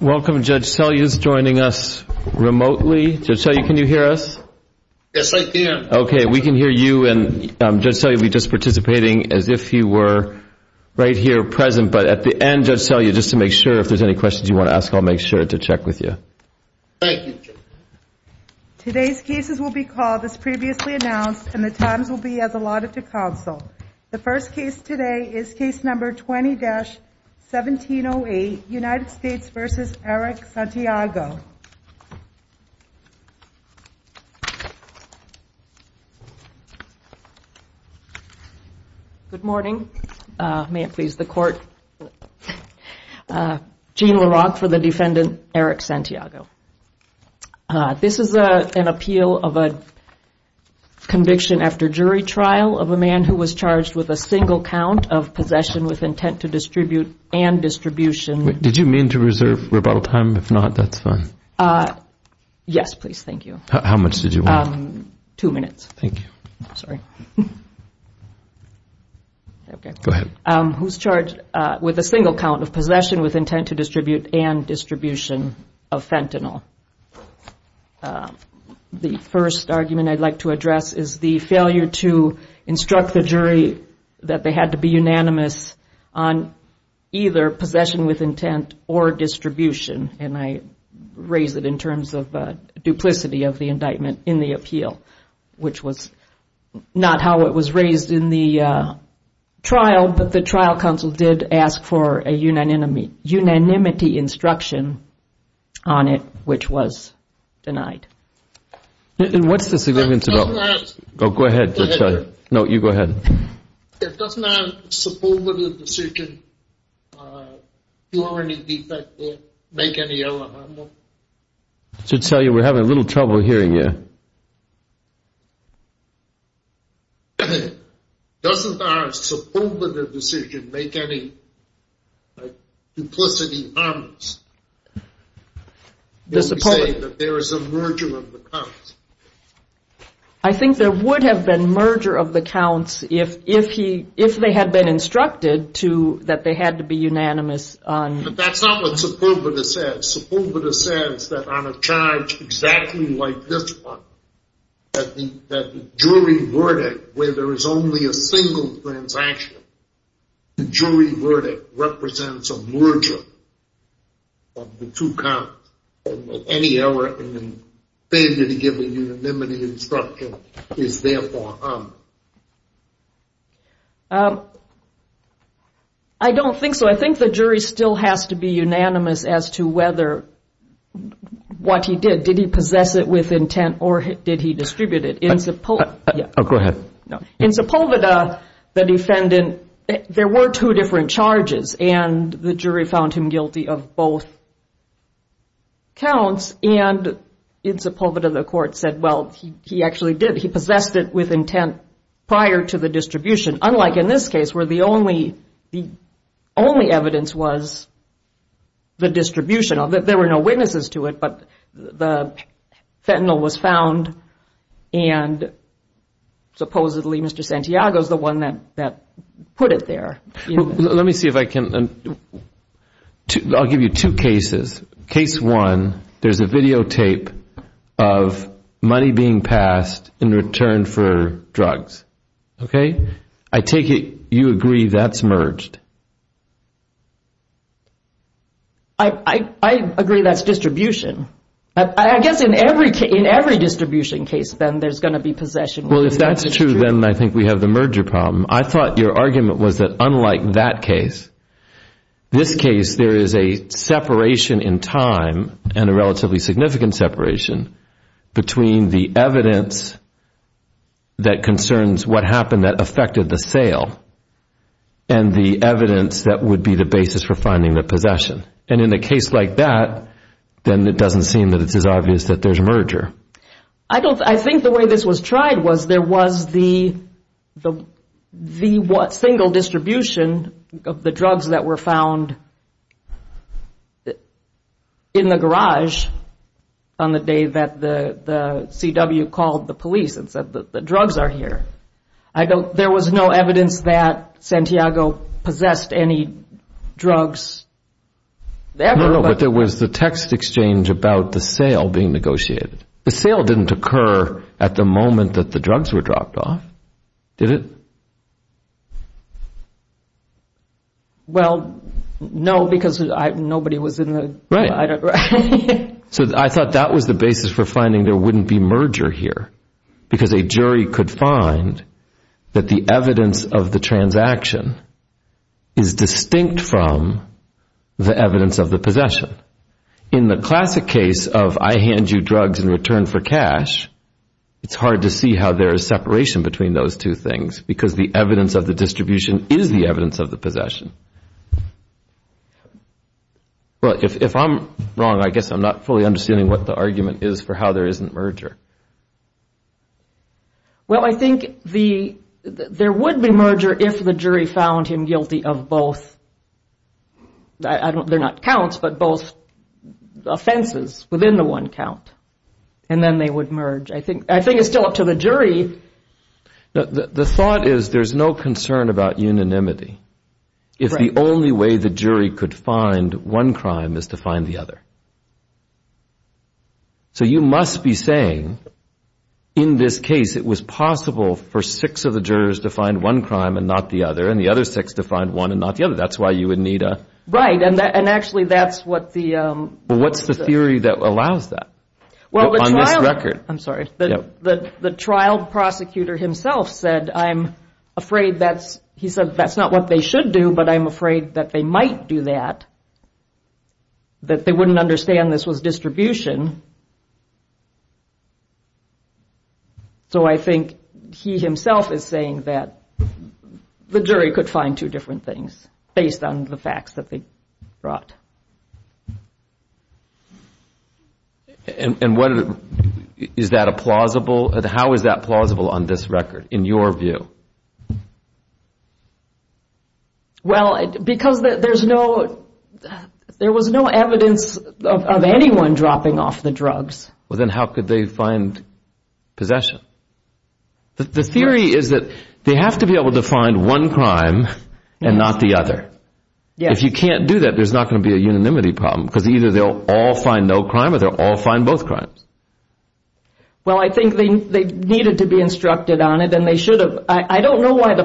Welcome Judge Selya is joining us remotely. Judge Selya can you hear us? Yes I can. Okay we can hear you and Judge Selya will be just participating as if you were right here present but at the end Judge Selya just to make sure if there's any questions you want to ask I'll make sure to check with you. Thank you. Today's cases will be called as previously announced and the times will be as allotted to counsel. The first case today is case number 20-1708 United States v. Eric Santiago. Good morning. May it please the court. Jane LaRock for the defendant Eric Santiago. This is an appeal of a conviction after jury trial of a man who was charged with a single count of possession with intent to distribute and distribution. Did you mean to reserve rebuttal time? If not that's fine. Yes please thank you. How much did you want? Two minutes. Thank you. Sorry. Who's charged with a single count of possession with intent to distribute and distribution of fentanyl? The first argument I'd like to address is the failure to instruct the jury that they had to be unanimous on either possession with intent or distribution and I raise it in terms of duplicity of the indictment in the appeal which was not how it was raised in the trial but the trial counsel did ask for a unanimity instruction on it which was denied. What's the significance of that? Go ahead. No you go ahead. Doesn't our suppositive decision make any other harm? I should tell you we're having a little trouble hearing you. Doesn't our suppositive decision make any other harm? I think there would have been merger of the counts if they had been instructed that they had to be unanimous. But that's not what Supurvita says. Supurvita says that on a charge exactly like this one, that the jury verdict where there is only a single transaction, the jury verdict represents a merger of the two counts. Any error in the failure to give a unanimity instruction is therefore harmed. I don't think so. I think the jury still has to be unanimous as to whether what he did, did he possess it with intent or did he distribute it. Go ahead. In Supurvita the defendant, there were two different charges and the jury found him guilty of both counts and in Supurvita the court said well he actually did, he possessed it with intent prior to the distribution unlike in this case where the only evidence was the distribution of it. There were no witnesses to it but the fentanyl was found and supposedly Mr. Santiago is the one that put it there. Let me see if I can, I'll give you two cases. Case one, there's a videotape of money being passed in return for drugs. Okay, I take it you agree that's merged. I agree that's distribution. I guess in every distribution case then there's going to be possession. Well if that's true then I think we have the merger problem. I thought your argument was that unlike that case, this case there is a separation in time and a relatively significant separation between the evidence that concerns what happened that affected the sale and the evidence that would be the basis for finding the possession and in a case like that then it doesn't seem that it's as obvious that there's a merger. I think the way this was tried was there was the single distribution of the drugs that were found in the garage on the day that the CW called the police and said that the drugs are here. There was no evidence that Santiago possessed any drugs. No, no, but there was the text exchange about the sale being negotiated. The sale didn't occur at the moment that the drugs were dropped off, did it? Well, no because nobody was in the... Right, so I thought that was the basis for finding that the evidence of the transaction is distinct from the evidence of the possession. In the classic case of I hand you drugs in return for cash, it's hard to see how there is separation between those two things because the evidence of the distribution is the evidence of the possession. Well, if I'm wrong, I guess I'm not fully understanding what the argument is for how there isn't merger. Well, I think there would be merger if the jury found him guilty of both, they're not counts, but both offenses within the one count and then they would merge. I think it's still up to the jury. The thought is there's no concern about unanimity if the only way the jury could find one crime is to find the other. So you must be saying in this case it was possible for six of the jurors to find one crime and not the other and the other six to find one and not the other. That's why you would need a... Right, and actually that's what the... What's the theory that allows that on this record? I'm sorry, the trial prosecutor himself said I'm afraid that's, that's not what they should do, but I'm afraid that they might do that, that they wouldn't understand this was distribution. So I think he himself is saying that the jury could find two different things based on the facts that they brought. And what, is that a plausible, how is that plausible on this record in your view? Well, because there's no, there was no evidence of anyone dropping off the drugs. Well then how could they find possession? The theory is that they have to be able to find one crime and not the other. If you can't do that, there's not going to be a unanimity problem because either they'll all find no crime or they'll all find both crimes. Well, I think they needed to be instructed on it and they should have. I don't know why the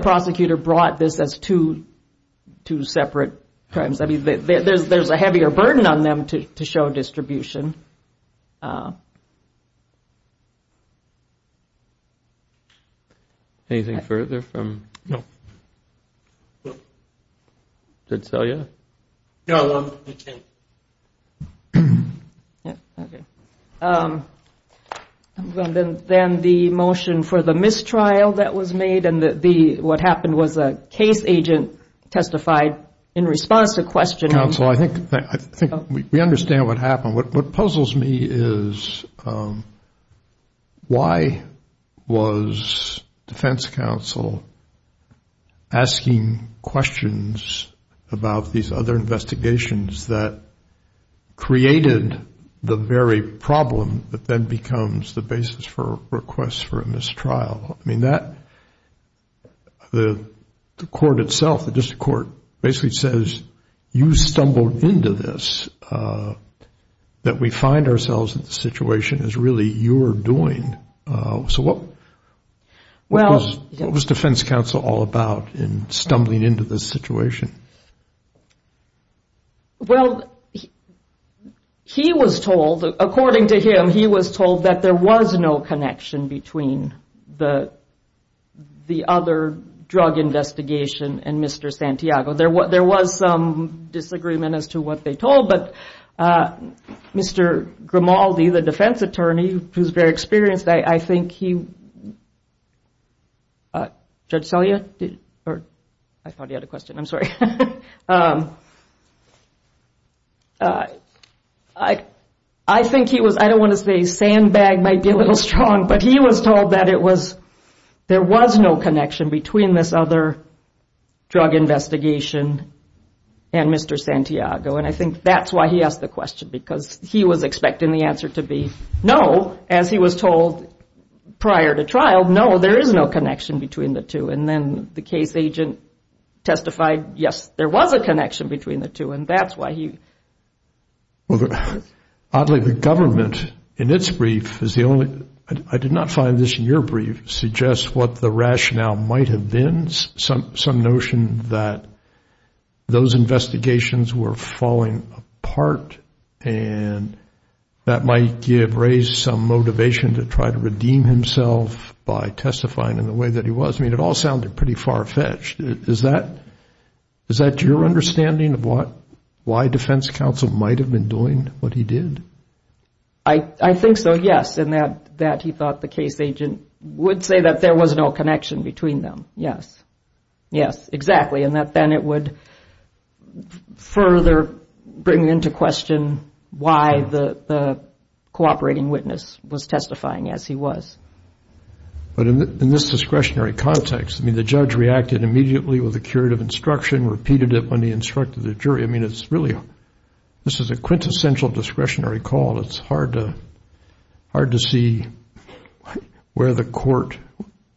two separate crimes, I mean, there's a heavier burden on them to show distribution. Anything further from? No. Did Celia? No, I can't. Okay. Then the motion for the mistrial that was made and the, what happened was a case agent testified in response to questioning. Counsel, I think, I think we understand what happened. What puzzles me is why was defense counsel asking questions about these other investigations that created the very problem that then becomes the basis for requests for a mistrial? I mean, that, the court itself, the district court basically says, you stumbled into this, that we find ourselves in the situation is really your doing. So what was defense counsel all about in stumbling into this situation? Well, he was told, according to him, he was told that there was no connection between the the other drug investigation and Mr. Santiago. There was some disagreement as to what they told, but Mr. Grimaldi, the defense attorney, who's very experienced, I think he, Judge Celia, or I thought he had a question. I'm sorry. I, I think he was, I don't want to say sandbag might be a little strong, but he was told that it was, there was no connection between this other drug investigation and Mr. Santiago. And I think that's why he asked the question, because he was expecting the answer to be no, as he was told prior to trial. No, there is no connection between the two. And then the case agent testified, yes, there was a connection between the two. And that's why he. Well, oddly, the government in its brief is the only, I did not find this in your brief, suggests what the rationale might have been. Some, some notion that those investigations were himself by testifying in the way that he was. I mean, it all sounded pretty far fetched. Is that, is that your understanding of what, why defense counsel might've been doing what he did? I, I think so. Yes. And that, that he thought the case agent would say that there was no connection between them. Yes. Yes, exactly. And that then it would further bring into question why the cooperating witness was testifying as he was. But in this discretionary context, I mean, the judge reacted immediately with a curative instruction, repeated it when he instructed the jury. I mean, it's really, this is a quintessential discretionary call. It's hard to, hard to see where the court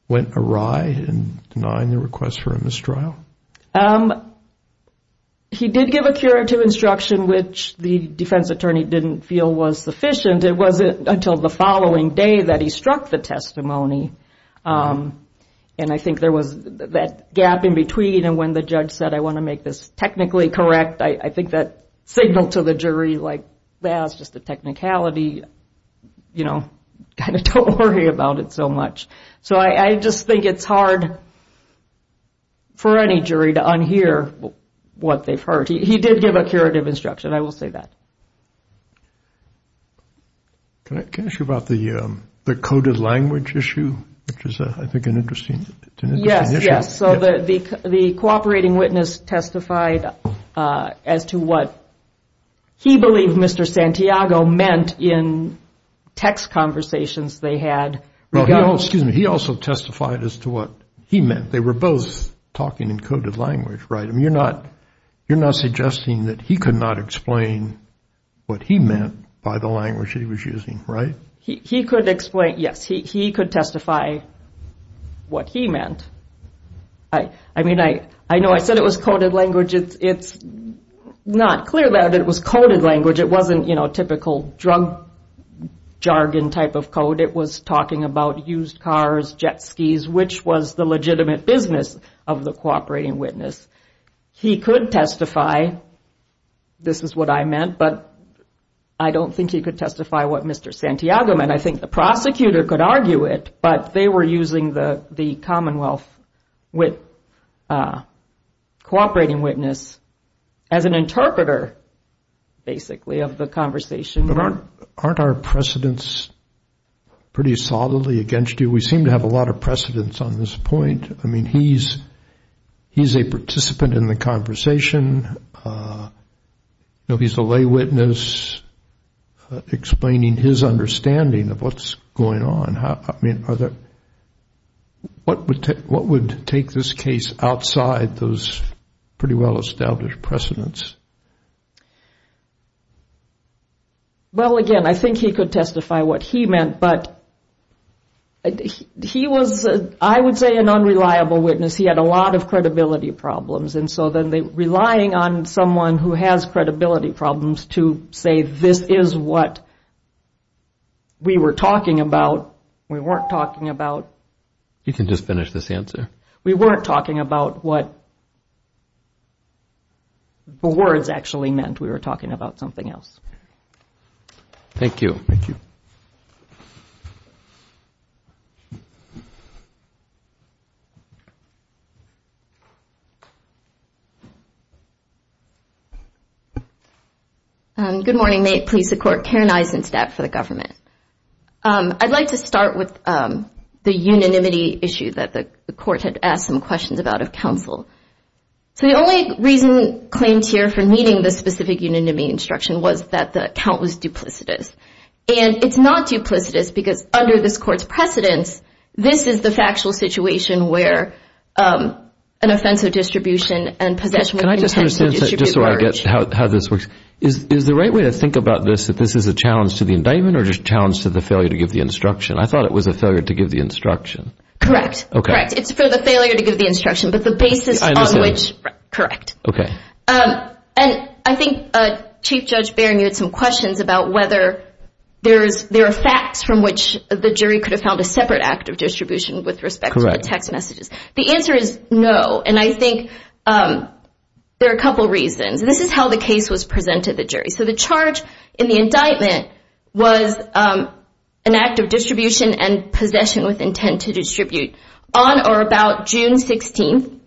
went awry in denying the request for a mistrial. Um, he did give a curative instruction, which the defense attorney didn't feel was sufficient. It wasn't until the following day that he struck the testimony. Um, and I think there was that gap in between. And when the judge said, I want to make this technically correct, I think that signal to the jury, like, yeah, it's just a technicality, you know, kind of don't worry about it so much. So I just think it's hard for any jury to unhear what they've heard. He did give a curative instruction. I will say that. Can I, can I ask you about the, um, the coded language issue, which is, uh, I think an interesting issue. Yes. Yes. So the, the, the cooperating witness testified, uh, as to what he believed Mr. Santiago meant in text conversations they had. Well, excuse me. He also testified as to what he meant. They were both talking in coded language, right? I mean, you're not, you're not suggesting that he could not explain what he meant by the language he was using, right? He, he could explain. Yes. He, he could testify what he meant. I, I mean, I, I know I said it was coded language. It's, it's not clear that it was coded language. It wasn't, you know, typical drug jargon type of code. It was talking about used cars, jet skis, which was the legitimate business of the cooperating witness. He could testify. This is what I meant, but I don't think he could testify what Mr. Santiago meant. I think the prosecutor could argue it, but they were using the, the Commonwealth with, uh, cooperating witness as an interpreter, basically, of the conversation. But aren't, aren't our precedents pretty solidly against you? We seem to have a lot of precedents on this point. I mean, he's, he's a participant in the conversation. Uh, you know, he's a lay witness explaining his understanding of what's going on. How, I mean, are there, what would, what would take this case outside those pretty well established precedents? Well, again, I think he could testify what he meant, but he was, I would say, an unreliable witness. He had a lot of credibility problems. And so then they, relying on someone who has credibility problems to say, this is what we were talking about. We weren't talking about. You can just finish this answer. We weren't talking about what the words actually meant. We were talking about something else. Thank you. Thank you. Um, good morning, may it please the court. Karen Eisenstadt for the government. I'd like to start with, um, the unanimity issue that the court had asked some questions about of counsel. So the only reason claimed here for meeting the specific unanimity instruction was that the count was duplicitous. And it's not duplicitous because under this court's precedence, this is the factual situation where, um, an offensive distribution and possession. Can I just understand, just so I get how this works, is the right way to think about this, that this is a challenge to the indictment or just challenge to the failure to give the instruction? I thought it was a failure to give the instruction. Correct. Correct. It's for the failure to give the instruction, but the basis on which, correct. Okay. Um, and I think, uh, Chief Judge Baring had some questions about whether there's, there are facts from which the jury could have found a separate act of distribution with respect to the text messages. The answer is no. And I think, um, there are a couple reasons. This is how the case was presented to the jury. So the charge in the indictment was, um, an act of distribution and possession with intent to distribute on or about June 16th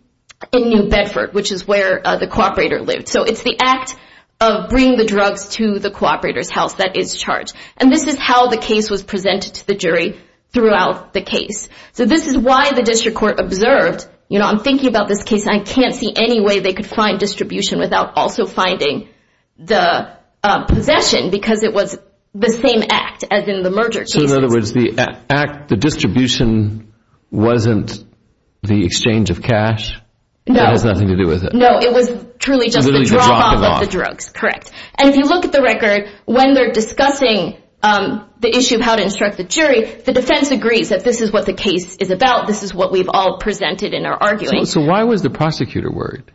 in New Bedford, which is where, uh, the cooperator lived. So it's the act of bringing the drugs to the cooperator's house that is charged. And this is how the case was presented to the jury throughout the case. So this is why the district court observed, you know, I'm thinking about this case and I can't see any way they could find distribution without also finding the, uh, possession because it was the same act as in the merger cases. So in other words, the act, the distribution wasn't the exchange of cash? No. It has nothing to do with it. No, it was truly just the drop off of the drugs. Correct. And if you look at the record, when they're discussing, um, the issue of how to instruct the jury, the defense agrees that this is what the case is about. This is what we've all presented in our arguing. So why was the prosecutor worried?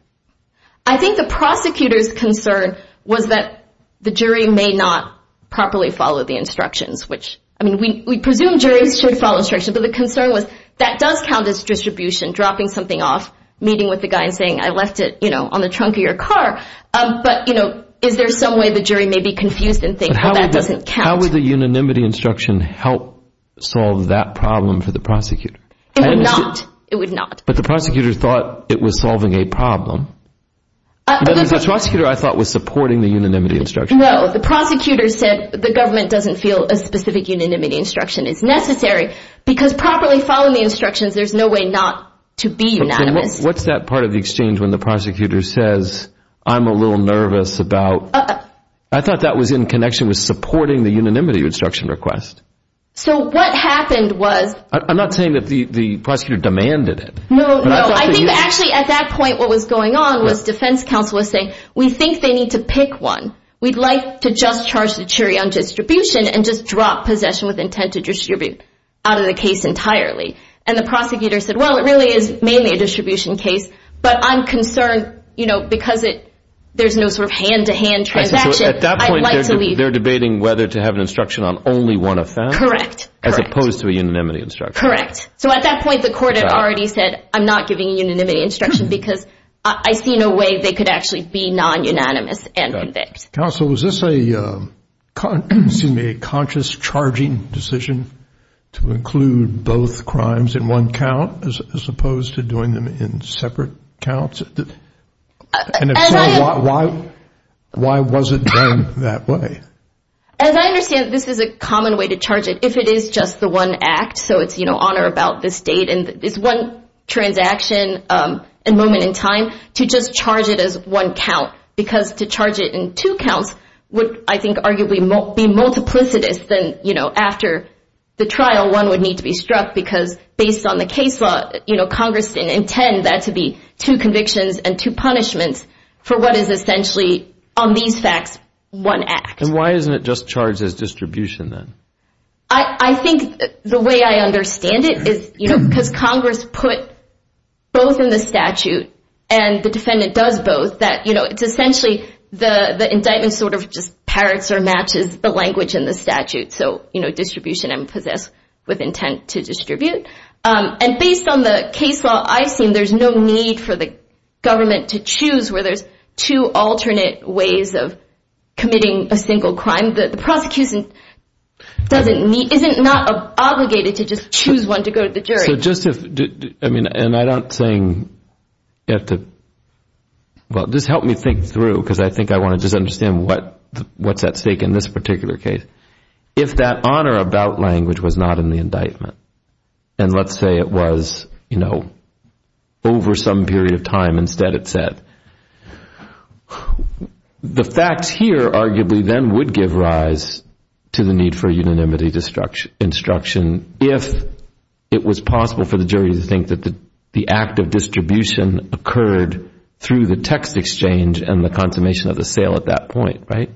I think the prosecutor's concern was that the jury may not properly follow the instructions, which, I mean, we, we presume juries should follow the instructions, but the concern was that does count as distribution, dropping something off, meeting with the guy and saying, I left it, you know, on the trunk of your car. Um, but you know, is there some way the jury may be confused and think, well, that doesn't count. How would the unanimity instruction help solve that problem for the prosecutor? It would not. It would not. But the prosecutor thought it was solving a problem. The prosecutor I thought was supporting the unanimity instruction. No, the prosecutor said the government doesn't feel a specific unanimity instruction is necessary. Because properly following the instructions, there's no way not to be unanimous. What's that part of the exchange when the prosecutor says, I'm a little nervous about, I thought that was in connection with supporting the unanimity instruction request. So what happened was, I'm not saying that the, the prosecutor demanded it. No, no. I think actually at that point, what was going on was defense counsel was saying, we think they need to pick one. We'd like to just charge the jury on distribution and just out of the case entirely. And the prosecutor said, well, it really is mainly a distribution case, but I'm concerned, you know, because it, there's no sort of hand to hand transaction. At that point, they're debating whether to have an instruction on only one offense. Correct. As opposed to a unanimity instruction. Correct. So at that point, the court had already said, I'm not giving a unanimity instruction because I see no way they could actually be non-unanimous and convict. Counsel, was this a, excuse me, a conscious charging decision? To include both crimes in one count as opposed to doing them in separate counts? And if so, why, why was it done that way? As I understand, this is a common way to charge it if it is just the one act. So it's, you know, honor about this date and this one transaction, a moment in time to just charge it as one count, because to charge it in two counts would, I think, arguably be multiplicitous than, you know, after the trial, one would need to be struck because based on the case law, you know, Congress didn't intend that to be two convictions and two punishments for what is essentially on these facts, one act. And why isn't it just charged as distribution then? I think the way I understand it is, you know, because Congress put both in the statute and the defendant does both that, you know, it's essentially the indictment sort of just parrots or matches the language in the statute. So, you know, distribution and possess with intent to distribute. And based on the case law, I've seen there's no need for the government to choose where there's two alternate ways of committing a single crime. The prosecution doesn't need, isn't not obligated to just choose one to go to the jury. So just if, I mean, and I don't think you have to, well, just help me think through, because I think I want to just understand what's at stake in this particular case. If that honor about language was not in the indictment, and let's say it was, you know, over some period of time, instead it said. The facts here arguably then would give rise to the need for unanimity destruction instruction if it was possible for the jury to think that the act of distribution occurred through the exchange and the consummation of the sale at that point, right?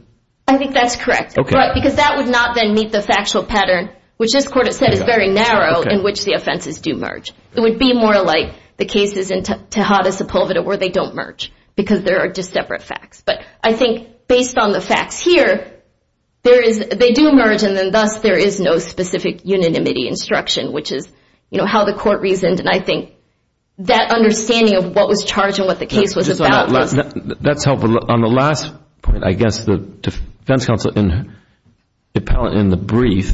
I think that's correct. Because that would not then meet the factual pattern, which this court has said is very narrow in which the offenses do merge. It would be more like the cases in Tejada Sepulveda where they don't merge because there are just separate facts. But I think based on the facts here, there is, they do merge and then thus there is no specific unanimity instruction, which is, you know, how the court reasoned. And I think that understanding of what was charged and what the case was about was... That's helpful. On the last point, I guess the defense counsel in the brief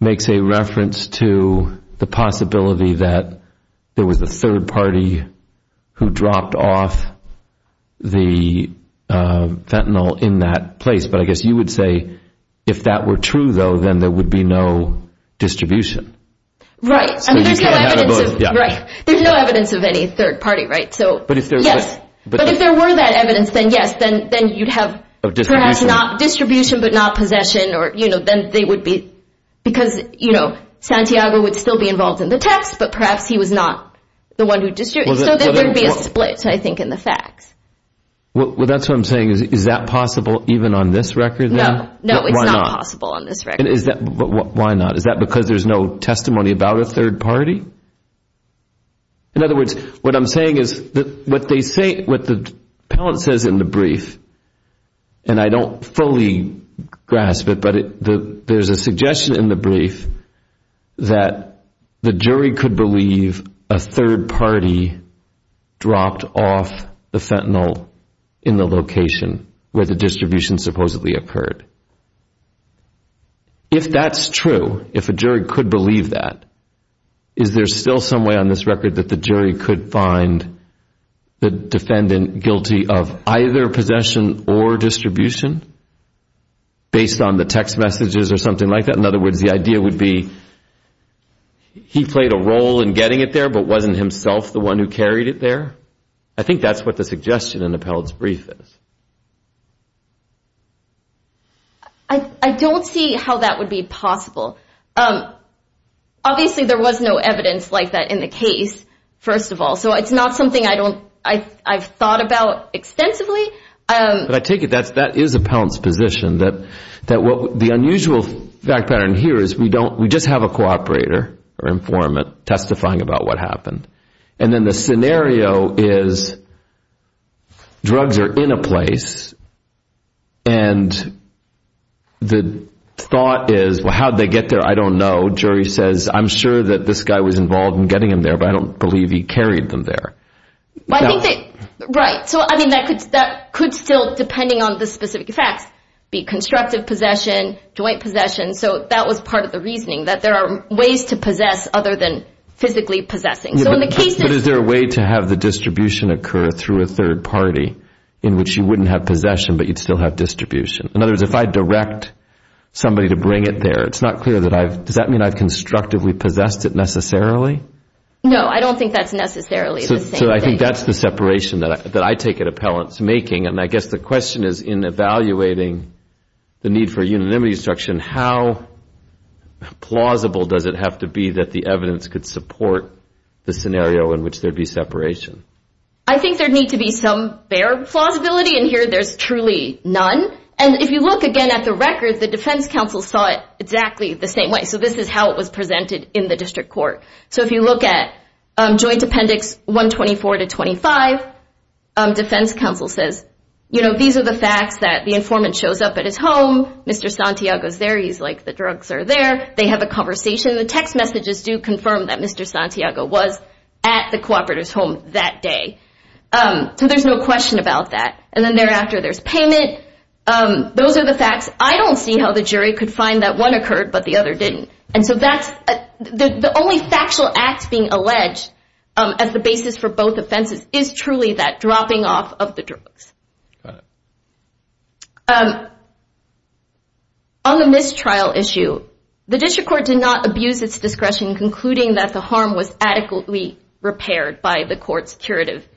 makes a reference to the possibility that there was a third party who dropped off the fentanyl in that place. But I guess you would say if that were true, though, then there would be no distribution. Right. There's no evidence of any third party, right? So, yes. But if there were that evidence, then yes, then you'd have distribution, but not possession or, you know, then they would be, because, you know, Santiago would still be involved in the text, but perhaps he was not the one who distributed. So there would be a split, I think, in the facts. Well, that's what I'm saying. Is that possible even on this record? No. No, it's not possible on this record. Why not? Is that because there's no testimony about a third party? In other words, what I'm saying is that what they say, what the appellant says in the brief, and I don't fully grasp it, but there's a suggestion in the brief that the jury could believe a third party dropped off the fentanyl in the location where the distribution supposedly occurred. If that's true, if a jury could believe that, is there still some way on this record that the jury could find the defendant guilty of either possession or distribution based on the text messages or something like that? In other words, the idea would be he played a role in getting it there, but wasn't himself the one who carried it there? I think that's what the suggestion in the appellant's brief is. I don't see how that would be possible. Obviously, there was no evidence like that in the case, first of all, so it's not something I've thought about extensively. But I take it that is the appellant's position, that the unusual fact pattern here is we just have a cooperator or informant testifying about what happened, and then the scenario is drugs are in a place, and the thought is, well, how'd they get there? I don't know. Jury says, I'm sure that this guy was involved in getting them there, but I don't believe he carried them there. Right. So I mean, that could still, depending on the specific facts, be constructive possession, joint possession. So that was part of the reasoning, that there are ways to possess other than physically possessing. But is there a way to have the distribution occur through a third party in which you wouldn't have possession, but you'd still have distribution? In other words, if I direct somebody to bring it there, does that mean I've constructively possessed it necessarily? No, I don't think that's necessarily the same thing. So I think that's the separation that I take it appellant's making, and I guess the question is, in evaluating the need for unanimity instruction, how plausible does it have to be that the evidence could support the scenario in which there'd be separation? I think there'd need to be some fair plausibility, and here there's truly none. And if you look again at the record, the defense counsel saw it exactly the same way. So this is how it was presented in the district court. So if you look at joint appendix 124 to 25, defense counsel says, you know, those are the facts that the informant shows up at his home, Mr. Santiago's there, he's like, the drugs are there, they have a conversation. The text messages do confirm that Mr. Santiago was at the cooperator's home that day. So there's no question about that. And then thereafter, there's payment. Those are the facts. I don't see how the jury could find that one occurred, but the other didn't. And so the only factual act being alleged as the basis for both offenses is truly that dropping off of the drugs. On the mistrial issue, the district court did not abuse its discretion, concluding that the harm was adequately repaired by the court's curative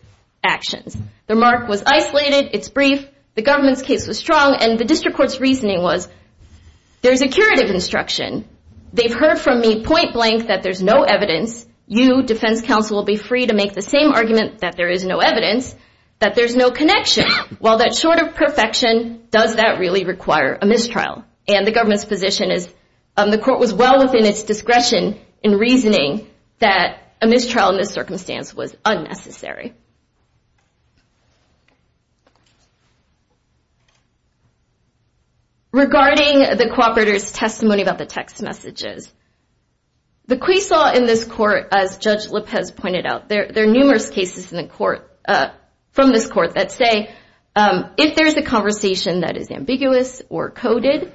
actions. The remark was isolated, it's brief, the government's case was strong, and the district court's reasoning was, there's a curative instruction. They've heard from me point blank that there's no evidence. You, defense counsel, will be free to make the same argument that there is no evidence, that there's no connection. While that's short of perfection, does that really require a mistrial? And the government's position is, the court was well within its discretion in reasoning that a mistrial in this circumstance was unnecessary. Regarding the cooperator's testimony about the text messages, the Quaisaw in this court, as Judge Lopez pointed out, there are numerous cases from this court that say, if there's a conversation that is ambiguous or coded,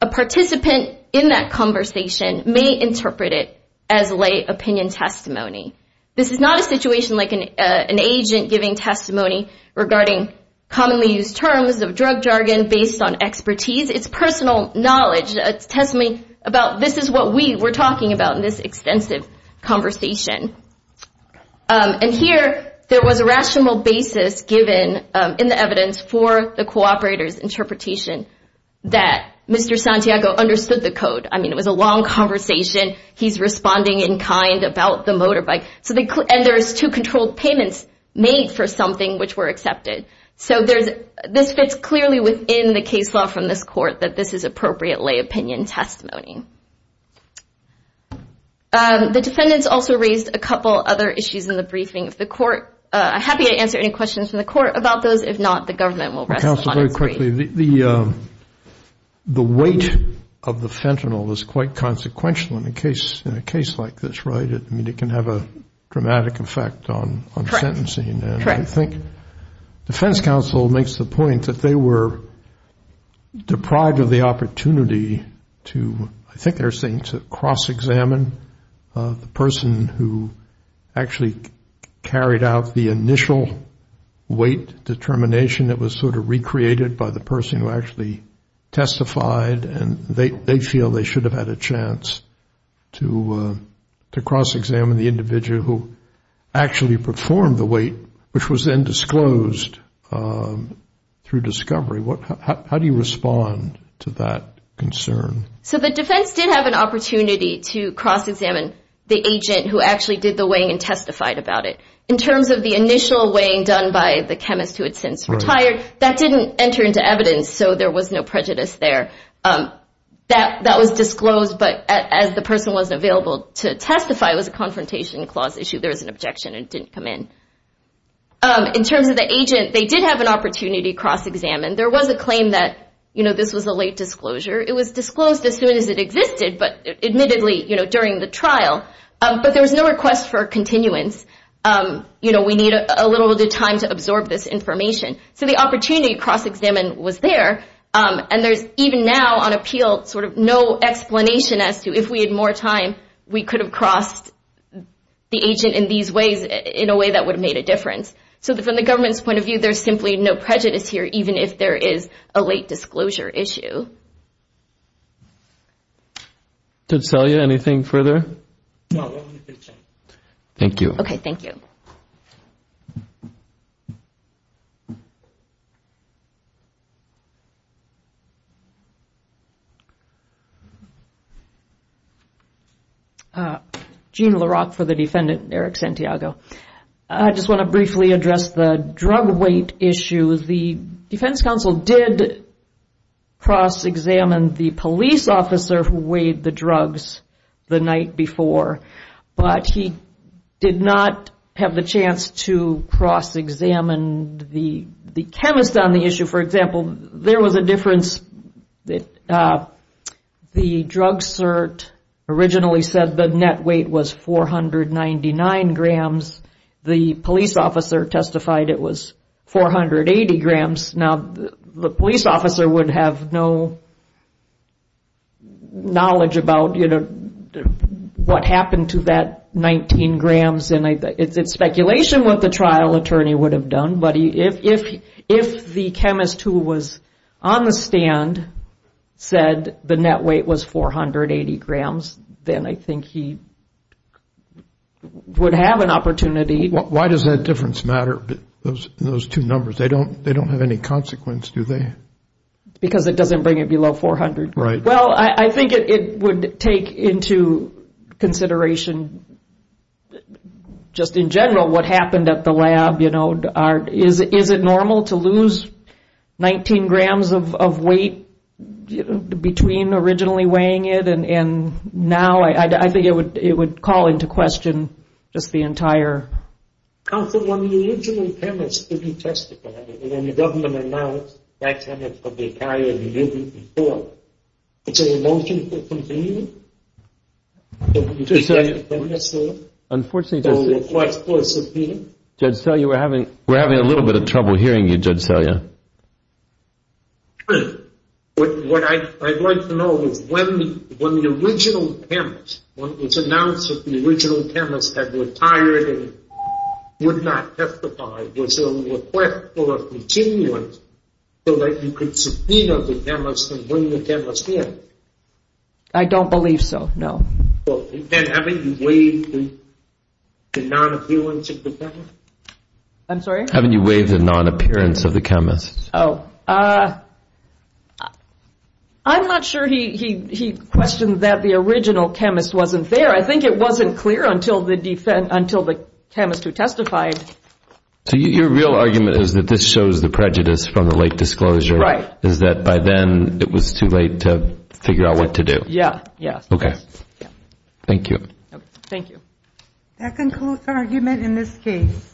a participant in that conversation may interpret it as lay opinion testimony. This is not a situation like an agent giving testimony regarding commonly used terms of drug jargon based on expertise. It's personal knowledge, testimony about, this is what we were talking about in this extensive conversation. And here, there was a rational basis given in the evidence for the cooperator's interpretation that Mr. Santiago understood the code. I mean, it was a long conversation. He's responding in kind about the motorbike. And there's two controlled payments made for something which were accepted. So there's, this fits clearly within the case law from this court that this is appropriate lay opinion testimony. The defendants also raised a couple other issues in the briefing of the court. I'm happy to answer any questions from the court about those. If not, the government will rest on its feet. Counsel, very quickly, the weight of the fentanyl is quite consequential in a case like this, right? I mean, it can have a dramatic effect on sentencing. And I think defense counsel makes the point that they were deprived of the opportunity to, I think they're saying to cross-examine the person who actually carried out the initial weight determination. It was sort of recreated by the person who actually testified. And they feel they should have had a chance to cross-examine the individual who actually performed the weight, which was then disclosed through discovery. How do you respond to that concern? So the defense did have an opportunity to cross-examine the agent who actually did the weighing and testified about it. In terms of the initial weighing done by the chemist who had since retired, that didn't enter into evidence, so there was no prejudice there. That was disclosed, but as the person wasn't available to testify, it was a confrontation clause issue. There was an objection and it didn't come in. In terms of the agent, they did have an opportunity to cross-examine. There was a claim that this was a late disclosure. It was disclosed as soon as it existed, but admittedly during the trial. But there was no request for continuance. We need a little bit of time to absorb this information. So the opportunity to cross-examine was there, and there's even now on appeal sort of explanation as to if we had more time, we could have crossed the agent in these ways, in a way that would have made a difference. So from the government's point of view, there's simply no prejudice here, even if there is a late disclosure issue. Gene LaRock for the defendant, Eric Santiago. I just want to briefly address the drug weight issue. The Defense cross-examined the police officer who weighed the drugs the night before, but he did not have the chance to cross-examine the chemist on the issue. For example, there was a difference. The drug cert originally said the net weight was 499 grams. The police officer testified it was 480 grams. Now, the police officer would have no knowledge about what happened to that 19 grams. It's speculation what the trial attorney would have done, but if the chemist who was on the stand said the net weight was 480 grams, then I think he would have an opportunity. Why does that difference matter? Those two numbers, they don't have any consequence, do they? Because it doesn't bring it below 400. Well, I think it would take into consideration just in general what happened at the lab. Is it normal to lose 19 grams of weight between originally weighing it and now? I think it would call into question just the entire... Counsel, when the original chemist who testified it, when the government announced that chemist would be a carrier of the mutant before, it's a motion to continue? Judge Selya, we're having a little bit of trouble hearing you, Judge Selya. What I'd like to know is when the original chemist, when it was announced that the original chemist had retired and would not testify, was there a request for a continuance so that you could subpoena the chemist and bring the chemist in? I don't believe so, no. Well, then haven't you waived the non-appearance of the chemist? I'm sorry? Haven't you waived the non-appearance of the chemist? Oh. I'm not sure he questioned that the original chemist wasn't there. I think it wasn't clear until the chemist who testified. So your real argument is that this shows the prejudice from the late disclosure? Right. Is that by then it was too late to figure out what to do? Yeah, yeah. Okay. Thank you. Thank you. That concludes our argument in this case.